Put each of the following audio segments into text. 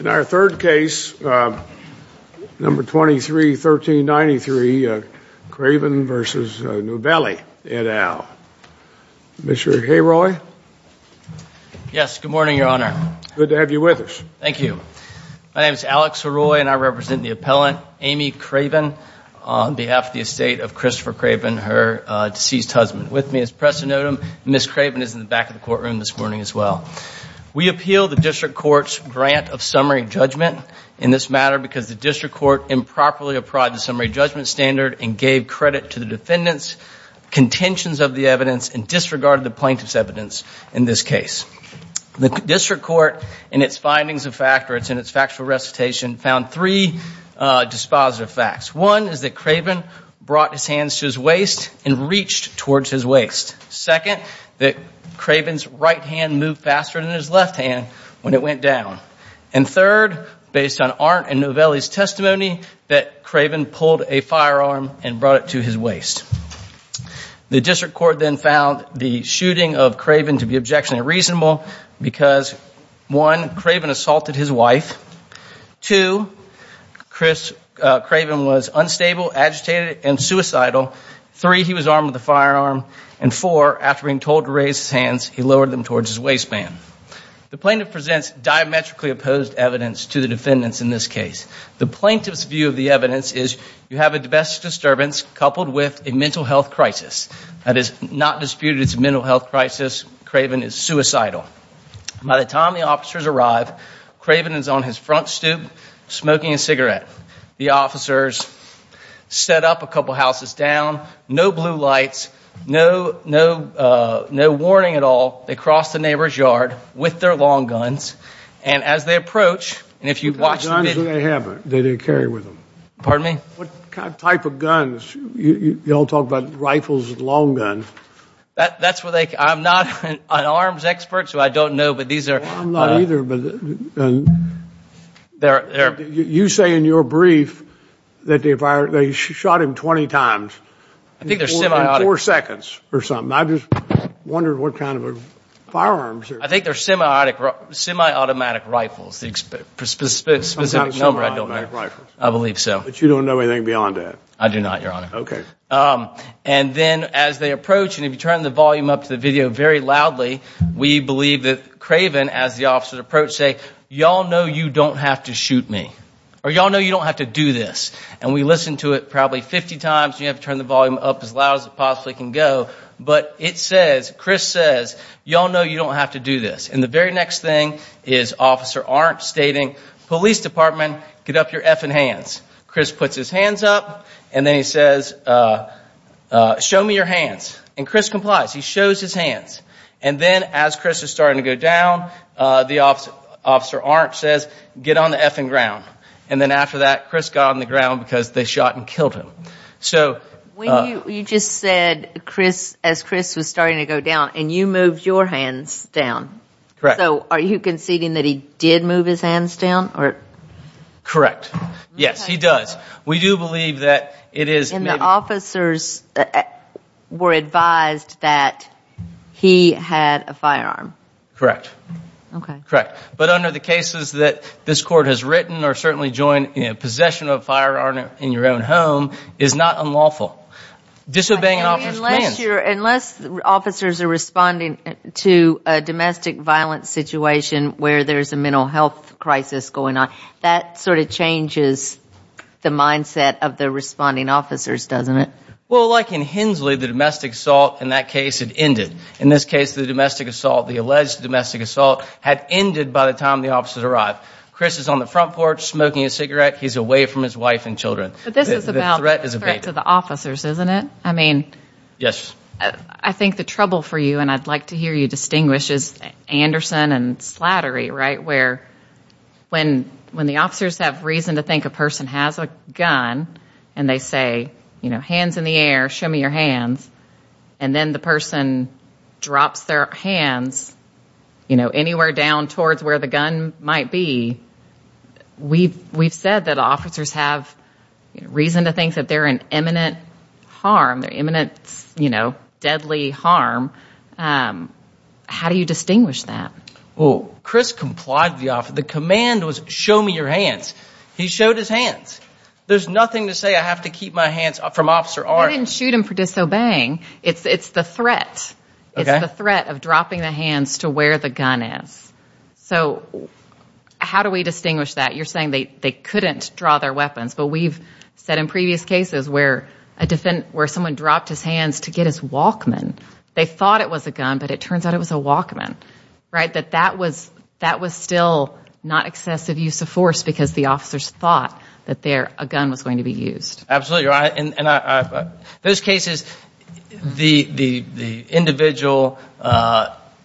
In our third case, number 23, 1393, Craven v. Novelli, et al. Mr. Heroy? Yes, good morning, Your Honor. Good to have you with us. Thank you. My name is Alex Heroy, and I represent the appellant Amy Craven on behalf of the estate of Christopher Craven, her deceased husband. With me is Preston Notum, and Ms. Craven is in the back of the courtroom this morning as well. We appeal the district court's grant of summary judgment in this matter because the district court improperly apprised the summary judgment standard and gave credit to the defendant's contentions of the evidence and disregarded the plaintiff's evidence in this case. The district court, in its findings of fact, or it's in its factual recitation, found three dispositive facts. One is that Craven brought his hands to his waist and reached towards his waist. Second, that Craven's right hand moved faster than his left hand when it went down. And third, based on Arndt and Novelli's testimony, that Craven pulled a firearm and brought it to his waist. The district court then found the shooting of Craven to be objectionable and reasonable because, one, Craven assaulted his wife. Two, Craven was unstable, agitated, and suicidal. Three, he was armed with a firearm. And four, after being told to raise his hands, he lowered them towards his waistband. The plaintiff presents diametrically opposed evidence to the defendants in this case. The plaintiff's view of the evidence is you have a domestic disturbance coupled with a mental health crisis. That is not disputed as a mental health crisis. Craven is suicidal. By the time the officers arrive, Craven is on his front stoop smoking a cigarette. The officers set up a couple houses down, no blue lights, no warning at all. They cross the neighbor's yard with their long guns. And as they approach, and if you watch the video — What kind of guns do they have that they carry with them? Pardon me? What type of guns? You all talk about rifles and long guns. I'm not an arms expert, so I don't know, but these are — I'm not either. You say in your brief that they shot him 20 times in four seconds or something. I just wondered what kind of firearms. I think they're semi-automatic rifles. The specific number, I don't know. I believe so. But you don't know anything beyond that? I do not, Your Honor. Okay. And then as they approach, and if you turn the volume up to the video very loudly, we believe that Craven, as the officers approach, say, Y'all know you don't have to shoot me. Or y'all know you don't have to do this. And we listened to it probably 50 times. You have to turn the volume up as loud as it possibly can go. But it says, Chris says, Y'all know you don't have to do this. And the very next thing is Officer Arndt stating, Police Department, get up your effing hands. Chris puts his hands up, and then he says, Show me your hands. And Chris complies. He shows his hands. And then as Chris is starting to go down, Officer Arndt says, Get on the effing ground. And then after that, Chris got on the ground because they shot and killed him. You just said as Chris was starting to go down, and you moved your hands down. Correct. So are you conceding that he did move his hands down? Correct. Yes, he does. We do believe that it is him. And the officers were advised that he had a firearm. Correct. Okay. Correct. But under the cases that this court has written or certainly joined, possession of a firearm in your own home is not unlawful. Disobeying an officer's commands. Unless officers are responding to a domestic violence situation where there's a mental health crisis going on, that sort of changes the mindset of the responding officers, doesn't it? Well, like in Hensley, the domestic assault in that case had ended. In this case, the alleged domestic assault had ended by the time the officers arrived. Chris is on the front porch smoking a cigarette. He's away from his wife and children. But this is about the threat to the officers, isn't it? Yes. I think the trouble for you, and I'd like to hear you distinguish, is Anderson and Slattery, right, where when the officers have reason to think a person has a gun and they say, you know, hands in the air, show me your hands, and then the person drops their hands, you know, anywhere down towards where the gun might be. We've said that officers have reason to think that they're in imminent harm, imminent, you know, deadly harm. How do you distinguish that? Well, Chris complied with the officer. The command was, show me your hands. He showed his hands. There's nothing to say I have to keep my hands from Officer Arndt. That didn't shoot him for disobeying. It's the threat. It's the threat of dropping the hands to where the gun is. So how do we distinguish that? You're saying they couldn't draw their weapons. But we've said in previous cases where someone dropped his hands to get his Walkman. They thought it was a gun, but it turns out it was a Walkman. Right? That that was still not excessive use of force because the officers thought that a gun was going to be used. Absolutely. Those cases, the individual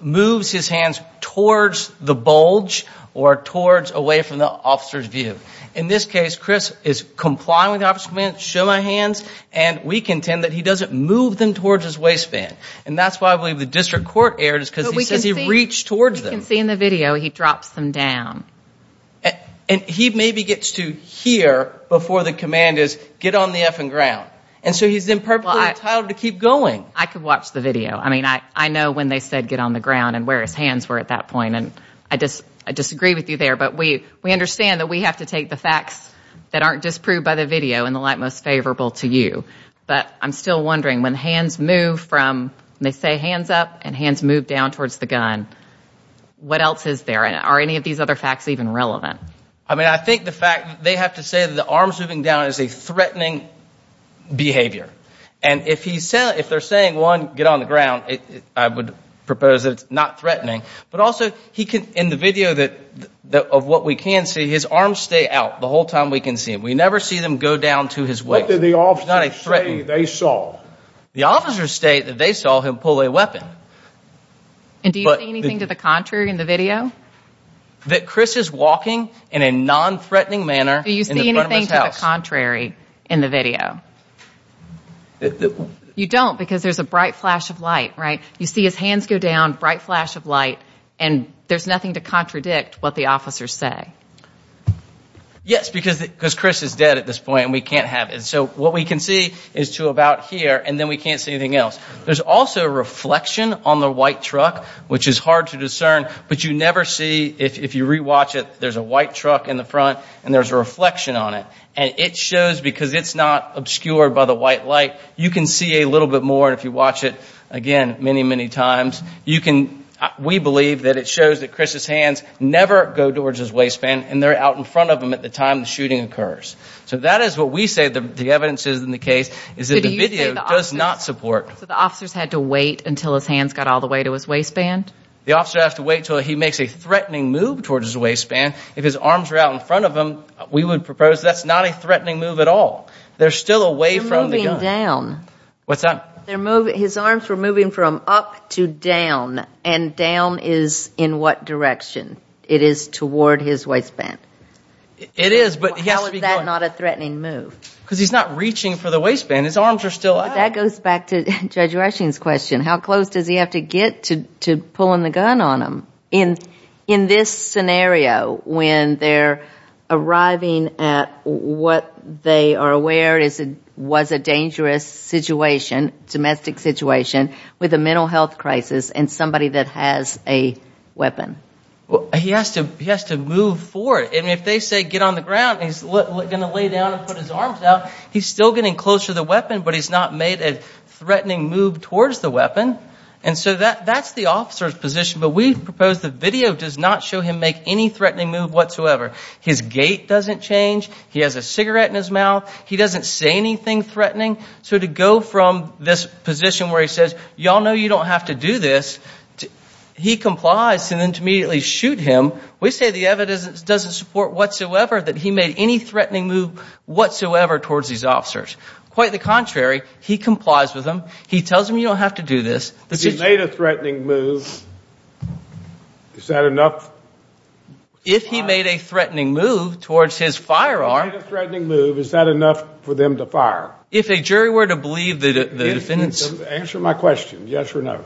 moves his hands towards the bulge or towards away from the officer's view. In this case, Chris is complying with the officer's command, show my hands, and we contend that he doesn't move them towards his waistband. And that's why I believe the district court erred is because he says he reached towards them. We can see in the video he drops them down. And he maybe gets to hear before the command is get on the effing ground. And so he's then perfectly entitled to keep going. I could watch the video. I mean, I know when they said get on the ground and where his hands were at that point, and I disagree with you there, but we understand that we have to take the facts that aren't disproved by the video in the light most favorable to you. But I'm still wondering, when hands move from, when they say hands up and hands move down towards the gun, what else is there? And are any of these other facts even relevant? I mean, I think the fact that they have to say that the arms moving down is a threatening behavior. And if they're saying, one, get on the ground, I would propose that it's not threatening. But also, in the video of what we can see, his arms stay out the whole time we can see him. We never see them go down to his waist. What did the officers say they saw? The officers state that they saw him pull a weapon. And do you see anything to the contrary in the video? That Chris is walking in a nonthreatening manner in front of his house. Do you see anything to the contrary in the video? You don't, because there's a bright flash of light, right? You see his hands go down, bright flash of light, and there's nothing to contradict what the officers say. Yes, because Chris is dead at this point, and we can't have it. So what we can see is to about here, and then we can't see anything else. There's also a reflection on the white truck, which is hard to discern, but you never see, if you rewatch it, there's a white truck in the front, and there's a reflection on it. And it shows, because it's not obscured by the white light, you can see a little bit more, and if you watch it again many, many times, we believe that it shows that Chris's hands never go towards his waistband, and they're out in front of him at the time the shooting occurs. So that is what we say the evidence is in the case, is that the video does not support. So the officers had to wait until his hands got all the way to his waistband? The officer has to wait until he makes a threatening move towards his waistband. If his arms are out in front of him, we would propose that's not a threatening move at all. They're still away from the gun. They're moving down. What's that? His arms were moving from up to down, and down is in what direction? It is toward his waistband. It is, but he has to be going. How is that not a threatening move? Because he's not reaching for the waistband. His arms are still out. That goes back to Judge Washington's question. How close does he have to get to pulling the gun on him? In this scenario, when they're arriving at what they are aware was a dangerous situation, domestic situation, with a mental health crisis and somebody that has a weapon? He has to move forward. And if they say get on the ground and he's going to lay down and put his arms out, he's still getting close to the weapon, but he's not made a threatening move towards the weapon. And so that's the officer's position. But we propose the video does not show him make any threatening move whatsoever. His gait doesn't change. He has a cigarette in his mouth. He doesn't say anything threatening. So to go from this position where he says, y'all know you don't have to do this, he complies and then to immediately shoot him. We say the evidence doesn't support whatsoever that he made any threatening move whatsoever towards these officers. Quite the contrary. He complies with them. He tells them you don't have to do this. If he made a threatening move, is that enough? If he made a threatening move towards his firearm. If he made a threatening move, is that enough for them to fire? If a jury were to believe the defendants. Answer my question, yes or no.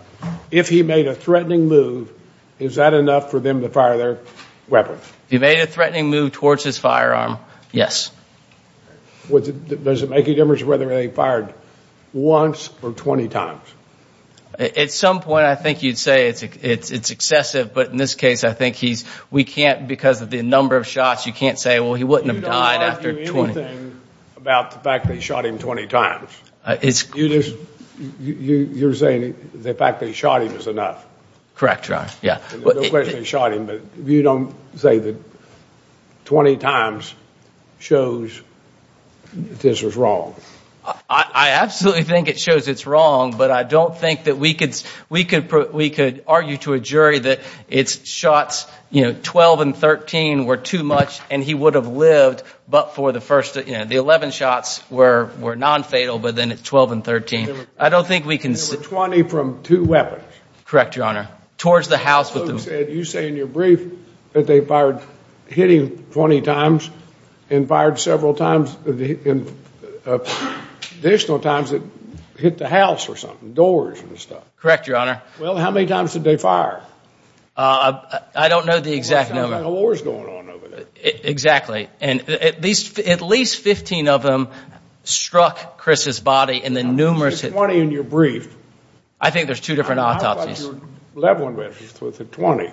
If he made a threatening move, is that enough for them to fire their weapons? If he made a threatening move towards his firearm, yes. Does it make a difference whether they fired once or 20 times? At some point I think you'd say it's excessive, but in this case I think we can't, because of the number of shots, you can't say, well, he wouldn't have died after 20. What do you think about the fact that he shot him 20 times? You're saying the fact that he shot him is enough? Correct, Your Honor. There's no question he shot him, but you don't say that 20 times shows this was wrong? I absolutely think it shows it's wrong, but I don't think that we could argue to a jury that it's shots, you know, 12 and 13 were too much and he would have lived, but for the first, you know, the 11 shots were nonfatal, but then it's 12 and 13. I don't think we can. There were 20 from two weapons. Correct, Your Honor. Towards the house with them. You said in your brief that they fired, hit him 20 times and fired several times, additional times that hit the house or something, doors and stuff. Correct, Your Honor. Well, how many times did they fire? I don't know the exact number. It sounds like a war is going on over there. Exactly. And at least 15 of them struck Chris's body in the numerous. You said 20 in your brief. I think there's two different autopsies. I thought you were leveling with the 20.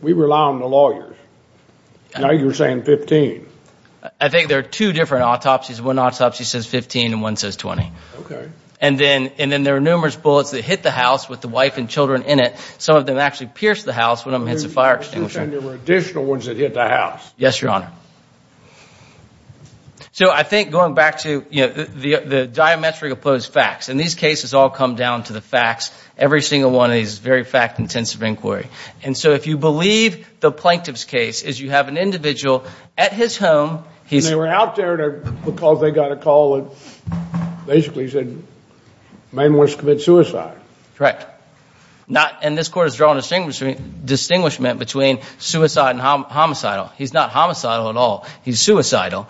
We rely on the lawyers. Now you're saying 15. I think there are two different autopsies. One autopsy says 15 and one says 20. Okay. And then there are numerous bullets that hit the house with the wife and children in it. Some of them actually pierced the house. One of them hits a fire extinguisher. You're saying there were additional ones that hit the house. Yes, Your Honor. So I think going back to the diametric opposed facts, and these cases all come down to the facts. Every single one is very fact-intensive inquiry. And so if you believe the plaintiff's case is you have an individual at his home. They were out there because they got a call that basically said the man wants to commit suicide. Correct. And this court has drawn a distinguishment between suicide and homicidal. He's not homicidal at all. He's suicidal.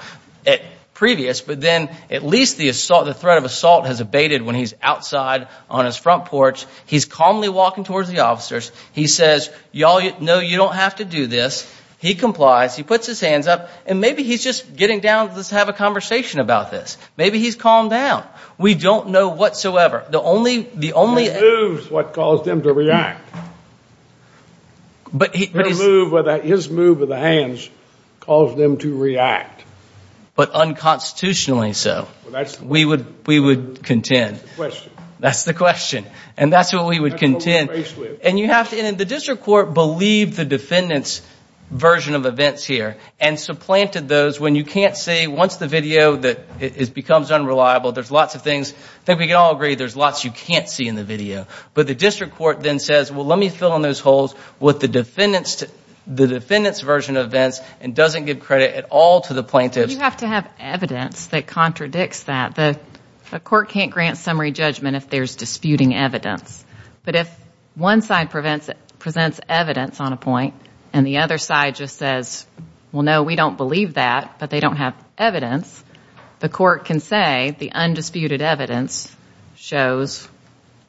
Previous, but then at least the threat of assault has abated when he's outside on his front porch. He's calmly walking towards the officers. He says, no, you don't have to do this. He complies. He puts his hands up. And maybe he's just getting down to just have a conversation about this. Maybe he's calmed down. We don't know whatsoever. The only— His moves what caused them to react. But he— His move with the hands caused them to react. But unconstitutionally so. We would contend. That's the question. That's the question. And that's what we would contend. And you have to—and the district court believed the defendant's version of events here and supplanted those when you can't see. Once the video becomes unreliable, there's lots of things. I think we can all agree there's lots you can't see in the video. But the district court then says, well, let me fill in those holes with the defendant's version of events and doesn't give credit at all to the plaintiffs. You have to have evidence that contradicts that. The court can't grant summary judgment if there's disputing evidence. But if one side presents evidence on a point and the other side just says, well, no, we don't believe that, but they don't have evidence, the court can say the undisputed evidence shows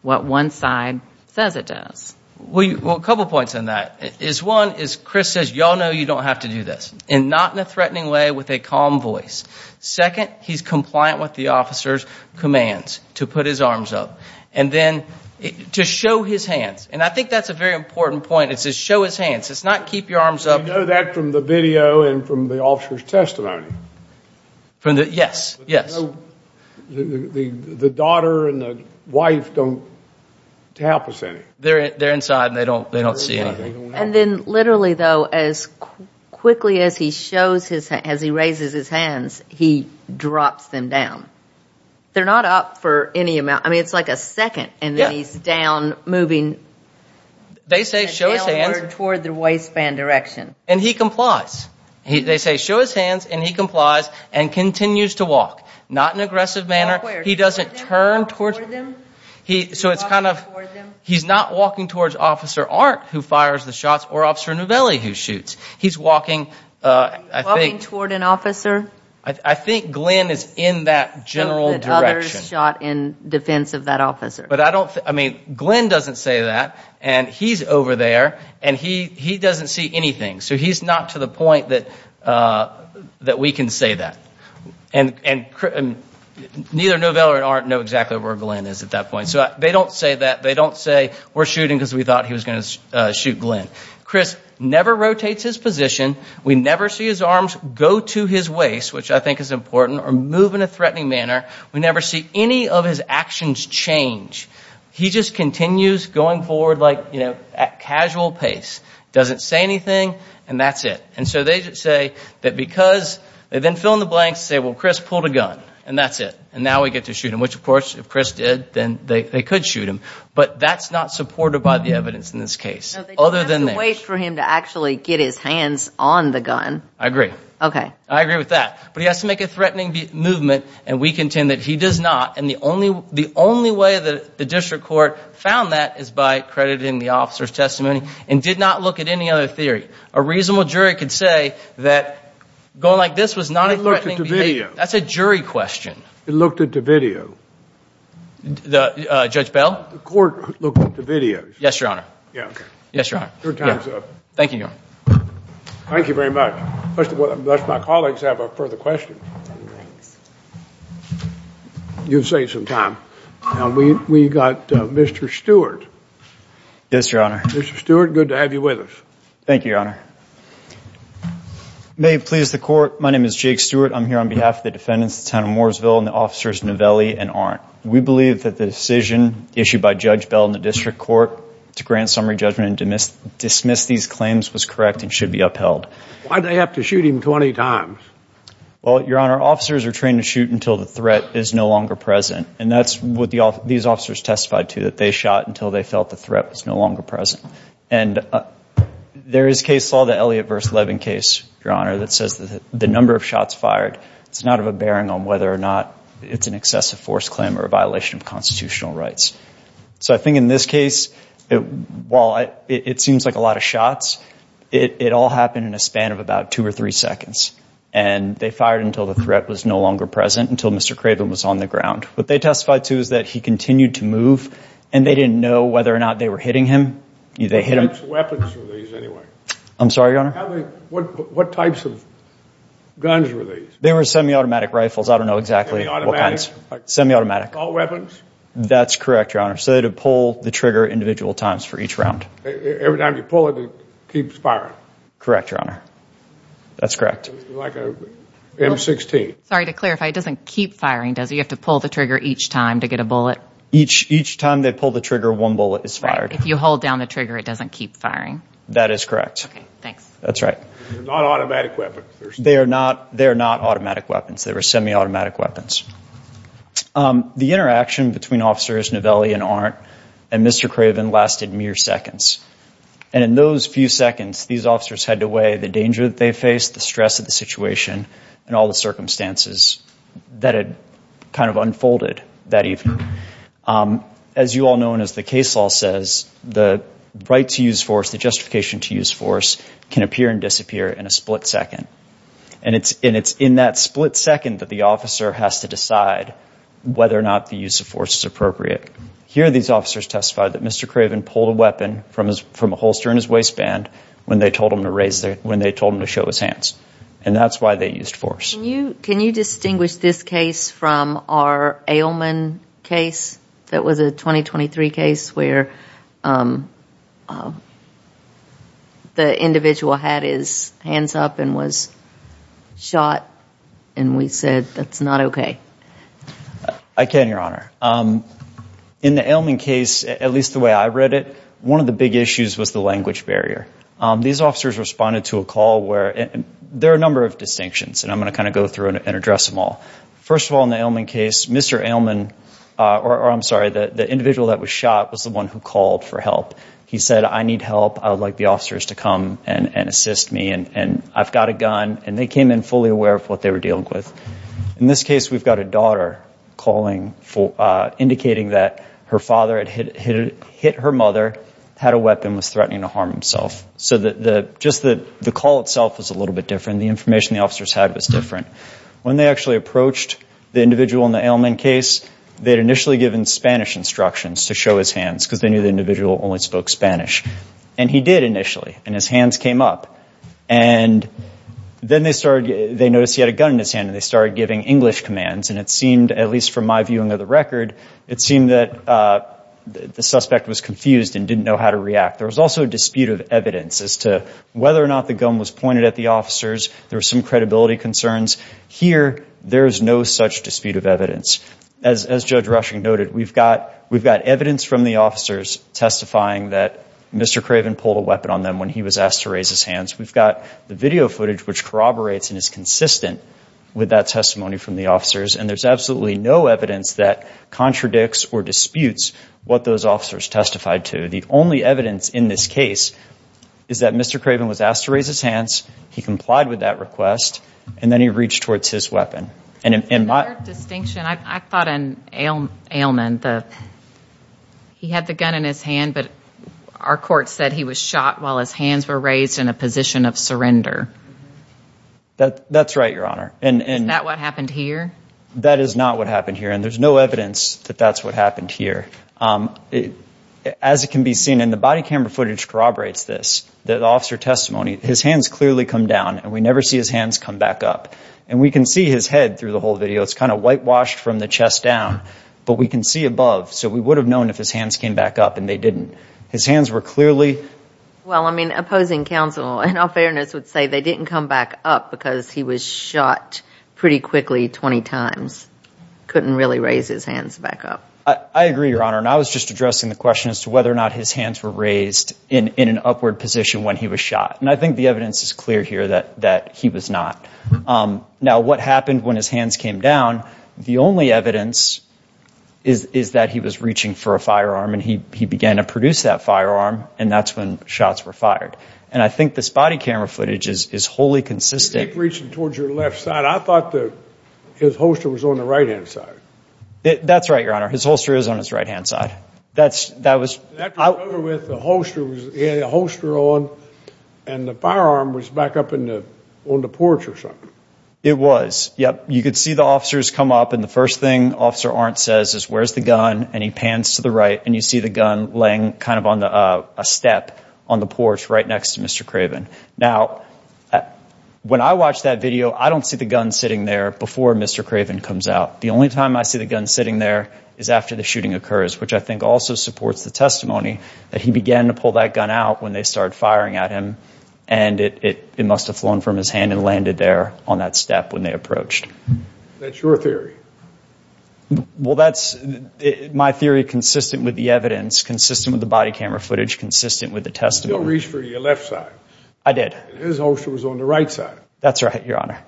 what one side says it does. Well, a couple points on that. One is Chris says, y'all know you don't have to do this, and not in a threatening way with a calm voice. Second, he's compliant with the officer's commands to put his arms up. And then to show his hands. And I think that's a very important point. It says show his hands. It's not keep your arms up. We know that from the video and from the officer's testimony. Yes, yes. The daughter and the wife don't tap us any. They're inside and they don't see anything. And then literally, though, as quickly as he raises his hands, he drops them down. They're not up for any amount. I mean, it's like a second. And then he's down, moving. They say show his hands. Toward the waistband direction. And he complies. They say show his hands and he complies and continues to walk. Not in an aggressive manner. He doesn't turn toward them. So it's kind of, he's not walking towards Officer Arndt who fires the shots or Officer Novelli who shoots. He's walking, I think. Walking toward an officer. I think Glenn is in that general direction. That others shot in defense of that officer. But I don't, I mean, Glenn doesn't say that. And he's over there and he doesn't see anything. So he's not to the point that we can say that. And neither Novelli or Arndt know exactly where Glenn is at that point. So they don't say that. They don't say we're shooting because we thought he was going to shoot Glenn. Chris never rotates his position. We never see his arms go to his waist. Which I think is important. Or move in a threatening manner. We never see any of his actions change. He just continues going forward like, you know, at casual pace. Doesn't say anything. And that's it. And so they just say that because, they then fill in the blanks and say, well, Chris pulled a gun. And that's it. And now we get to shoot him. Which, of course, if Chris did, then they could shoot him. But that's not supported by the evidence in this case. No, they don't have to wait for him to actually get his hands on the gun. I agree. Okay. I agree with that. But he has to make a threatening movement. And we contend that he does not. And the only way that the district court found that is by crediting the officer's testimony. And did not look at any other theory. A reasonable jury could say that going like this was not a threatening behavior. It looked at the video. That's a jury question. It looked at the video. Judge Bell? The court looked at the videos. Yes, Your Honor. Yes, Your Honor. Your time is up. Thank you, Your Honor. Thank you very much. Does my colleagues have a further question? No, thanks. You've saved some time. Now, we've got Mr. Stewart. Yes, Your Honor. Mr. Stewart, good to have you with us. Thank you, Your Honor. May it please the court, my name is Jake Stewart. I'm here on behalf of the defendants, the town of Mooresville, and the officers Novelli and Arndt. We believe that the decision issued by Judge Bell in the district court to grant summary judgment and dismiss these claims was correct and should be upheld. Why did they have to shoot him 20 times? Well, Your Honor, officers are trained to shoot until the threat is no longer present. And that's what these officers testified to, that they shot until they felt the threat was no longer present. And there is case law, the Elliott v. Levin case, Your Honor, that says that the number of shots fired, it's not of a bearing on whether or not it's an excessive force claim or a violation of constitutional rights. So I think in this case, while it seems like a lot of shots, it all happened in a span of about two or three seconds. And they fired until the threat was no longer present, until Mr. Craven was on the ground. What they testified to is that he continued to move, and they didn't know whether or not they were hitting him. What types of weapons were these, anyway? I'm sorry, Your Honor? What types of guns were these? They were semi-automatic rifles. I don't know exactly what kinds. Semi-automatic? Semi-automatic. All weapons? That's correct, Your Honor. So they would pull the trigger individual times for each round. Every time you pull it, it keeps firing? Correct, Your Honor. That's correct. Like an M16? Sorry to clarify, it doesn't keep firing, does it? You have to pull the trigger each time to get a bullet? Each time they pull the trigger, one bullet is fired. Right. If you hold down the trigger, it doesn't keep firing. That is correct. Okay, thanks. That's right. They're not automatic weapons. They are not automatic weapons. They were semi-automatic weapons. The interaction between Officers Novelli and Arndt and Mr. Craven lasted mere seconds. And in those few seconds, these officers had to weigh the danger that they faced, the stress of the situation, and all the circumstances that had kind of unfolded that evening. As you all know, and as the case law says, the right to use force, the justification to use force, can appear and disappear in a split second. And it's in that split second that the officer has to decide whether or not the use of force is appropriate. Here these officers testified that Mr. Craven pulled a weapon from a holster in his waistband when they told him to show his hands. And that's why they used force. Can you distinguish this case from our Ailman case that was a 2023 case where the individual had his hands up and was shot, and we said that's not okay? I can, Your Honor. In the Ailman case, at least the way I read it, one of the big issues was the language barrier. These officers responded to a call where there are a number of distinctions, and I'm going to kind of go through and address them all. First of all, in the Ailman case, Mr. Ailman, or I'm sorry, the individual that was shot was the one who called for help. He said, I need help. I would like the officers to come and assist me, and I've got a gun. And they came in fully aware of what they were dealing with. In this case, we've got a daughter calling indicating that her father had hit her mother, had a weapon, was threatening to harm himself. So just the call itself was a little bit different. The information the officers had was different. When they actually approached the individual in the Ailman case, they'd initially given Spanish instructions to show his hands because they knew the individual only spoke Spanish. And he did initially, and his hands came up. And then they noticed he had a gun in his hand, and they started giving English commands. And it seemed, at least from my viewing of the record, it seemed that the suspect was confused and didn't know how to react. There was also a dispute of evidence as to whether or not the gun was pointed at the officers. There were some credibility concerns. Here, there is no such dispute of evidence. As Judge Rushing noted, we've got evidence from the officers testifying that Mr. Craven pulled a weapon on them when he was asked to raise his hands. We've got the video footage, which corroborates and is consistent with that testimony from the officers. And there's absolutely no evidence that contradicts or disputes what those officers testified to. The only evidence in this case is that Mr. Craven was asked to raise his hands. He complied with that request, and then he reached towards his weapon. Another distinction, I thought an ailment. He had the gun in his hand, but our court said he was shot while his hands were raised in a position of surrender. That's right, Your Honor. Is that what happened here? That is not what happened here, and there's no evidence that that's what happened here. As it can be seen, and the body camera footage corroborates this, the officer testimony, his hands clearly come down, and we never see his hands come back up. And we can see his head through the whole video. It's kind of whitewashed from the chest down, but we can see above, so we would have known if his hands came back up, and they didn't. His hands were clearly— Well, I mean, opposing counsel, in all fairness, would say they didn't come back up because he was shot pretty quickly 20 times. Couldn't really raise his hands back up. I agree, Your Honor, and I was just addressing the question as to whether or not his hands were raised in an upward position when he was shot. And I think the evidence is clear here that he was not. Now, what happened when his hands came down, the only evidence is that he was reaching for a firearm, and he began to produce that firearm, and that's when shots were fired. And I think this body camera footage is wholly consistent— He was reaching towards your left side. I thought his holster was on the right-hand side. That's right, Your Honor. His holster is on his right-hand side. That was— I remember with the holster, he had the holster on, and the firearm was back up on the porch or something. It was. Yep. You could see the officers come up, and the first thing Officer Arndt says is, where's the gun? And he pans to the right, and you see the gun laying kind of on a step on the porch right next to Mr. Craven. Now, when I watched that video, I don't see the gun sitting there before Mr. Craven comes out. The only time I see the gun sitting there is after the shooting occurs, which I think also supports the testimony that he began to pull that gun out when they started firing at him, and it must have flown from his hand and landed there on that step when they approached. That's your theory? Well, that's my theory consistent with the evidence, consistent with the body camera footage, consistent with the testimony. You didn't reach for your left side. I did. His holster was on the right side. That's right, Your Honor.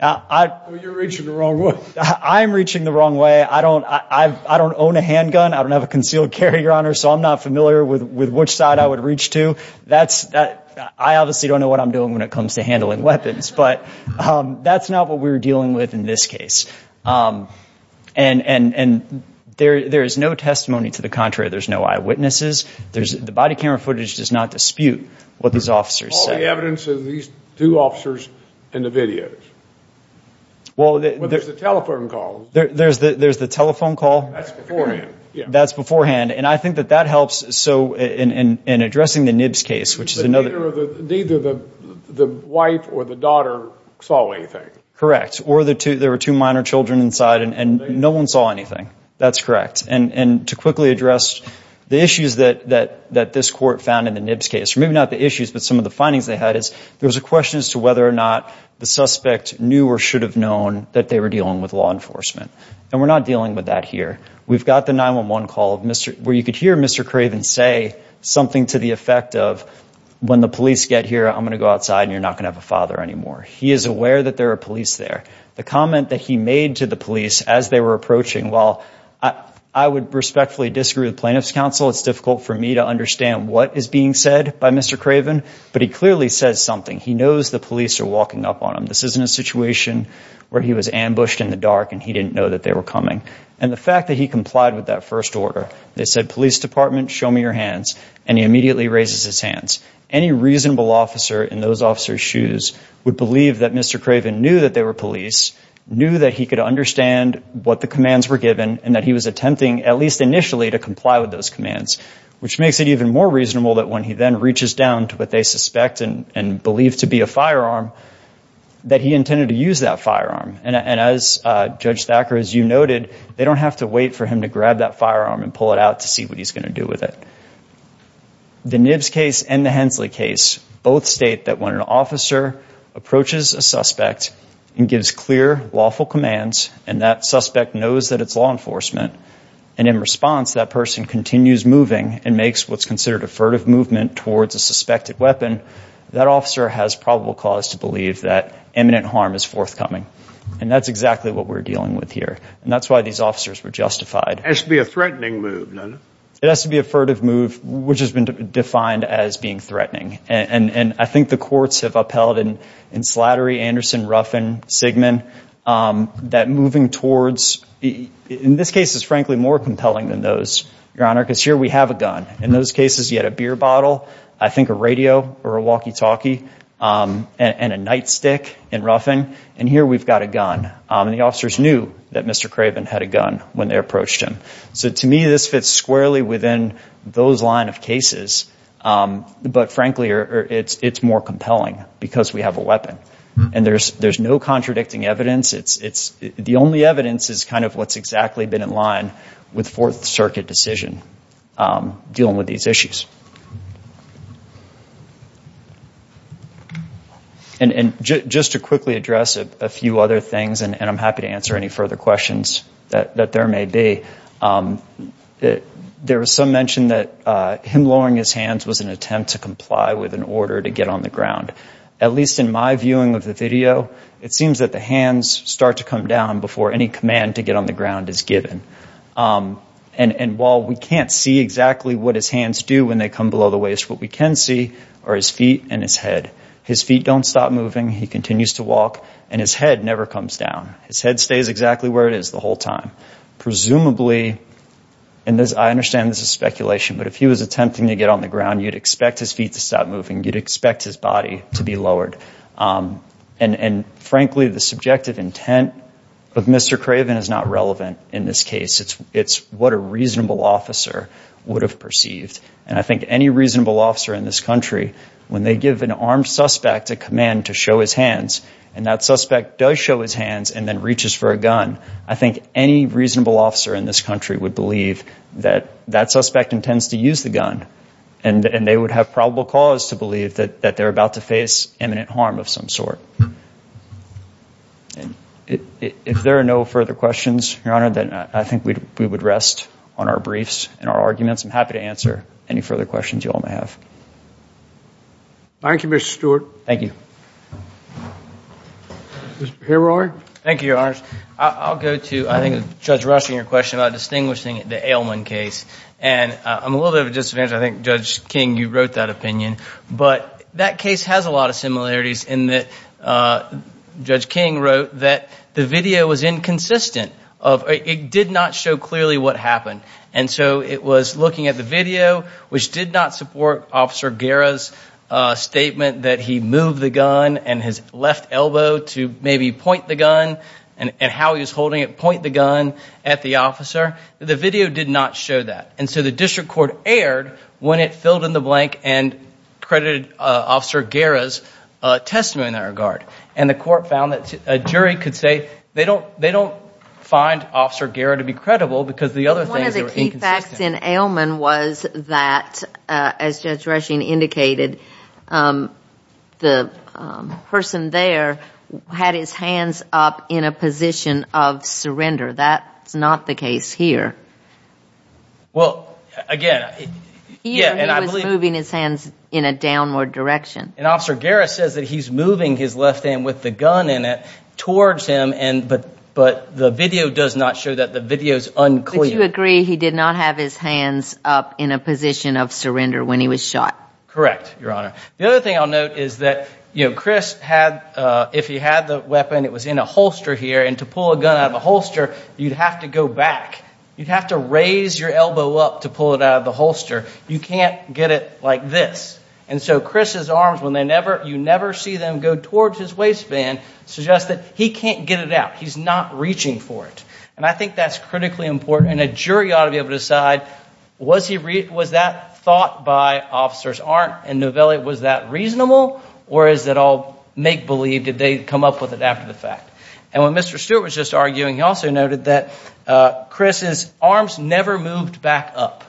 You're reaching the wrong way. I'm reaching the wrong way. I don't own a handgun. I don't have a concealed carry, Your Honor, so I'm not familiar with which side I would reach to. I obviously don't know what I'm doing when it comes to handling weapons, but that's not what we were dealing with in this case. And there is no testimony to the contrary. There's no eyewitnesses. The body camera footage does not dispute what these officers said. What's the evidence of these two officers and the videos? Well, there's the telephone call. There's the telephone call? That's beforehand. That's beforehand, and I think that that helps. So in addressing the Nibs case, which is another— Neither the wife or the daughter saw anything. Correct. Or there were two minor children inside and no one saw anything. That's correct. And to quickly address the issues that this court found in the Nibs case, or maybe not the issues but some of the findings they had, is there was a question as to whether or not the suspect knew or should have known that they were dealing with law enforcement. And we're not dealing with that here. We've got the 911 call where you could hear Mr. Craven say something to the effect of, when the police get here, I'm going to go outside and you're not going to have a father anymore. He is aware that there are police there. The comment that he made to the police as they were approaching, while I would respectfully disagree with plaintiff's counsel, it's difficult for me to understand what is being said by Mr. Craven, but he clearly says something. He knows the police are walking up on him. This isn't a situation where he was ambushed in the dark and he didn't know that they were coming. And the fact that he complied with that first order, they said, police department, show me your hands, and he immediately raises his hands. Any reasonable officer in those officers' shoes would believe that Mr. Craven knew that they were police, knew that he could understand what the commands were given, and that he was attempting, at least initially, to comply with those commands, which makes it even more reasonable that when he then reaches down to what they suspect and believe to be a firearm, that he intended to use that firearm. And as Judge Thacker, as you noted, they don't have to wait for him to grab that firearm and pull it out to see what he's going to do with it. The Nibs case and the Hensley case both state that when an officer approaches a suspect and gives clear, lawful commands, and that suspect knows that it's law enforcement, and in response that person continues moving and makes what's considered a furtive movement towards a suspected weapon, that officer has probable cause to believe that imminent harm is forthcoming. And that's exactly what we're dealing with here. And that's why these officers were justified. It has to be a threatening move. It has to be a furtive move, which has been defined as being threatening. And I think the courts have upheld in Slattery, Anderson, Ruffin, Sigmund, that moving towards, in this case it's frankly more compelling than those, Your Honor, because here we have a gun. In those cases you had a beer bottle, I think a radio or a walkie-talkie, and a nightstick in Ruffin, and here we've got a gun. And the officers knew that Mr. Craven had a gun when they approached him. So to me this fits squarely within those line of cases, but frankly it's more compelling because we have a weapon. And there's no contradicting evidence. The only evidence is kind of what's exactly been in line with Fourth Circuit decision dealing with these issues. And just to quickly address a few other things, and I'm happy to answer any further questions that there may be, there was some mention that him lowering his hands was an attempt to comply with an order to get on the ground. At least in my viewing of the video, it seems that the hands start to come down before any command to get on the ground is given. And while we can't see exactly what his hands do when they come below the waist, what we can see are his feet and his head. His feet don't stop moving, he continues to walk, and his head never comes down. His head stays exactly where it is the whole time. Presumably, and I understand this is speculation, but if he was attempting to get on the ground, you'd expect his feet to stop moving, you'd expect his body to be lowered. And frankly, the subjective intent of Mr. Craven is not relevant in this case. It's what a reasonable officer would have perceived. And I think any reasonable officer in this country, when they give an armed suspect a command to show his hands, and that suspect does show his hands and then reaches for a gun, I think any reasonable officer in this country would believe that that suspect intends to use the gun. And they would have probable cause to believe that they're about to face imminent harm of some sort. If there are no further questions, Your Honor, then I think we would rest on our briefs and our arguments. I'm happy to answer any further questions you all may have. Thank you, Mr. Stewart. Thank you. Mr. Hirory. Thank you, Your Honors. I'll go to, I think, Judge Rushing, your question about distinguishing the Ailman case. And I'm a little bit of a disadvantage. I think, Judge King, you wrote that opinion. But that case has a lot of similarities in that Judge King wrote that the video was inconsistent. It did not show clearly what happened. And so it was looking at the video, which did not support Officer Guerra's statement that he moved the gun and his left elbow to maybe point the gun and how he was holding it, point the gun at the officer. The video did not show that. And so the district court erred when it filled in the blank and credited Officer Guerra's testimony in that regard. And the court found that a jury could say they don't find Officer Guerra to be credible because the other things were inconsistent. One of the key facts in Ailman was that, as Judge Rushing indicated, the person there had his hands up in a position of surrender. That's not the case here. Well, again, yeah, and I believe- He was moving his hands in a downward direction. And Officer Guerra says that he's moving his left hand with the gun in it towards him, but the video does not show that. The video is unclear. But you agree he did not have his hands up in a position of surrender when he was shot? Correct, Your Honor. The other thing I'll note is that, you know, Chris had, if he had the weapon, it was in a holster here. And to pull a gun out of a holster, you'd have to go back. You'd have to raise your elbow up to pull it out of the holster. You can't get it like this. And so Chris's arms, when you never see them go towards his waistband, suggests that he can't get it out. He's not reaching for it. And I think that's critically important, and a jury ought to be able to decide, was that thought by Officers Arndt and Novelli, was that reasonable, or is it all make-believe, did they come up with it after the fact? And when Mr. Stewart was just arguing, he also noted that Chris's arms never moved back up.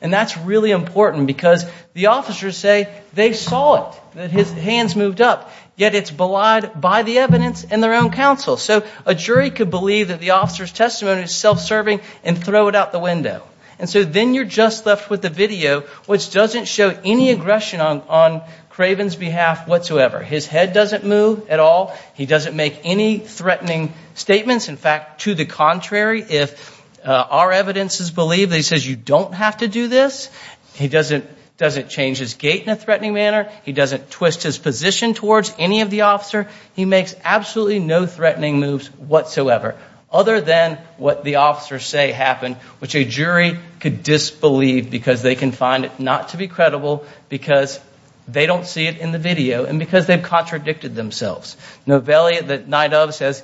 And that's really important because the officers say they saw it, that his hands moved up, yet it's belied by the evidence and their own counsel. So a jury could believe that the officer's testimony is self-serving and throw it out the window. And so then you're just left with the video, which doesn't show any aggression on Craven's behalf whatsoever. His head doesn't move at all. He doesn't make any threatening statements. In fact, to the contrary, if our evidences believe that he says you don't have to do this, he doesn't change his gait in a threatening manner. He doesn't twist his position towards any of the officer. He makes absolutely no threatening moves whatsoever, other than what the officers say happened, which a jury could disbelieve because they can find it not to be credible because they don't see it in the video and because they've contradicted themselves. Novelli, the night of, says,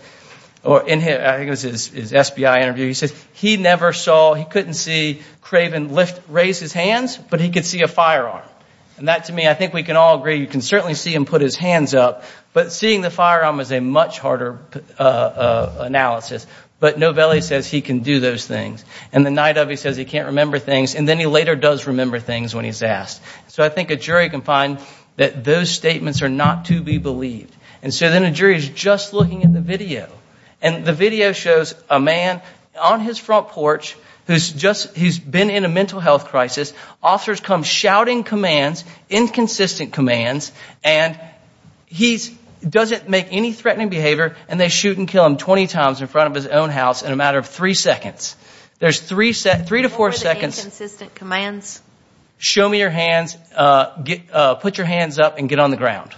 or in his SBI interview, he says he never saw, he couldn't see Craven raise his hands, but he could see a firearm. And that, to me, I think we can all agree, you can certainly see him put his hands up, but seeing the firearm is a much harder analysis. But Novelli says he can do those things. And the night of, he says he can't remember things. And then he later does remember things when he's asked. So I think a jury can find that those statements are not to be believed. And so then a jury is just looking at the video. And the video shows a man on his front porch who's been in a mental health crisis. Officers come shouting commands, inconsistent commands, and he doesn't make any threatening behavior, and they shoot and kill him 20 times in front of his own house in a matter of three seconds. There's three to four seconds. What were the inconsistent commands? Show me your hands, put your hands up, and get on the ground.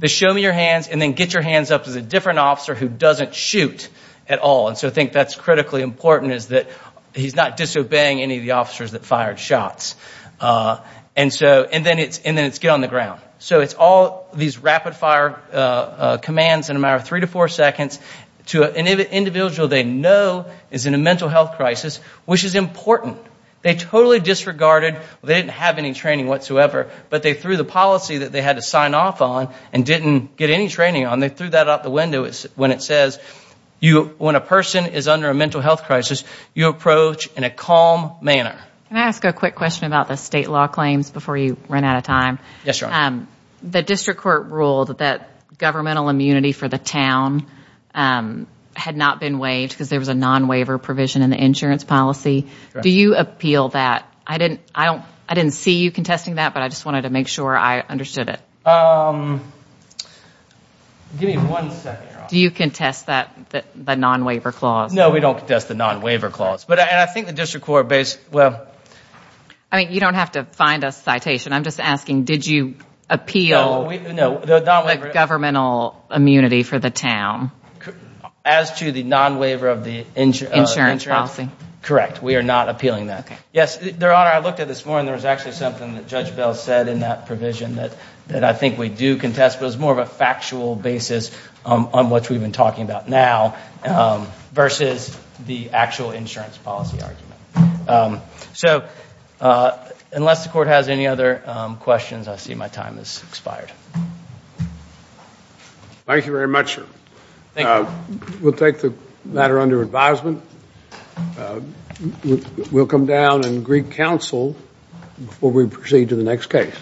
The show me your hands and then get your hands up is a different officer who doesn't shoot at all. And so I think that's critically important, is that he's not disobeying any of the officers that fired shots. And then it's get on the ground. So it's all these rapid fire commands in a matter of three to four seconds to an individual they know is in a mental health crisis, which is important. They totally disregarded, they didn't have any training whatsoever, but they threw the policy that they had to sign off on and didn't get any training on. They threw that out the window when it says when a person is under a mental health crisis, you approach in a calm manner. Can I ask a quick question about the state law claims before you run out of time? Yes, Your Honor. The district court ruled that governmental immunity for the town had not been waived because there was a non-waiver provision in the insurance policy. Do you appeal that? I didn't see you contesting that, but I just wanted to make sure I understood it. Give me one second, Your Honor. Do you contest the non-waiver clause? No, we don't contest the non-waiver clause. You don't have to find a citation. I'm just asking, did you appeal the governmental immunity for the town? As to the non-waiver of the insurance? Insurance policy. Correct. We are not appealing that. Yes, Your Honor, I looked at this morning. There was actually something that Judge Bell said in that provision that I think we do contest, but it's more of a factual basis on what we've been talking about now versus the actual insurance policy argument. So unless the court has any other questions, I see my time has expired. Thank you very much, sir. We'll take the matter under advisement. We'll come down and greet counsel before we proceed to the next case.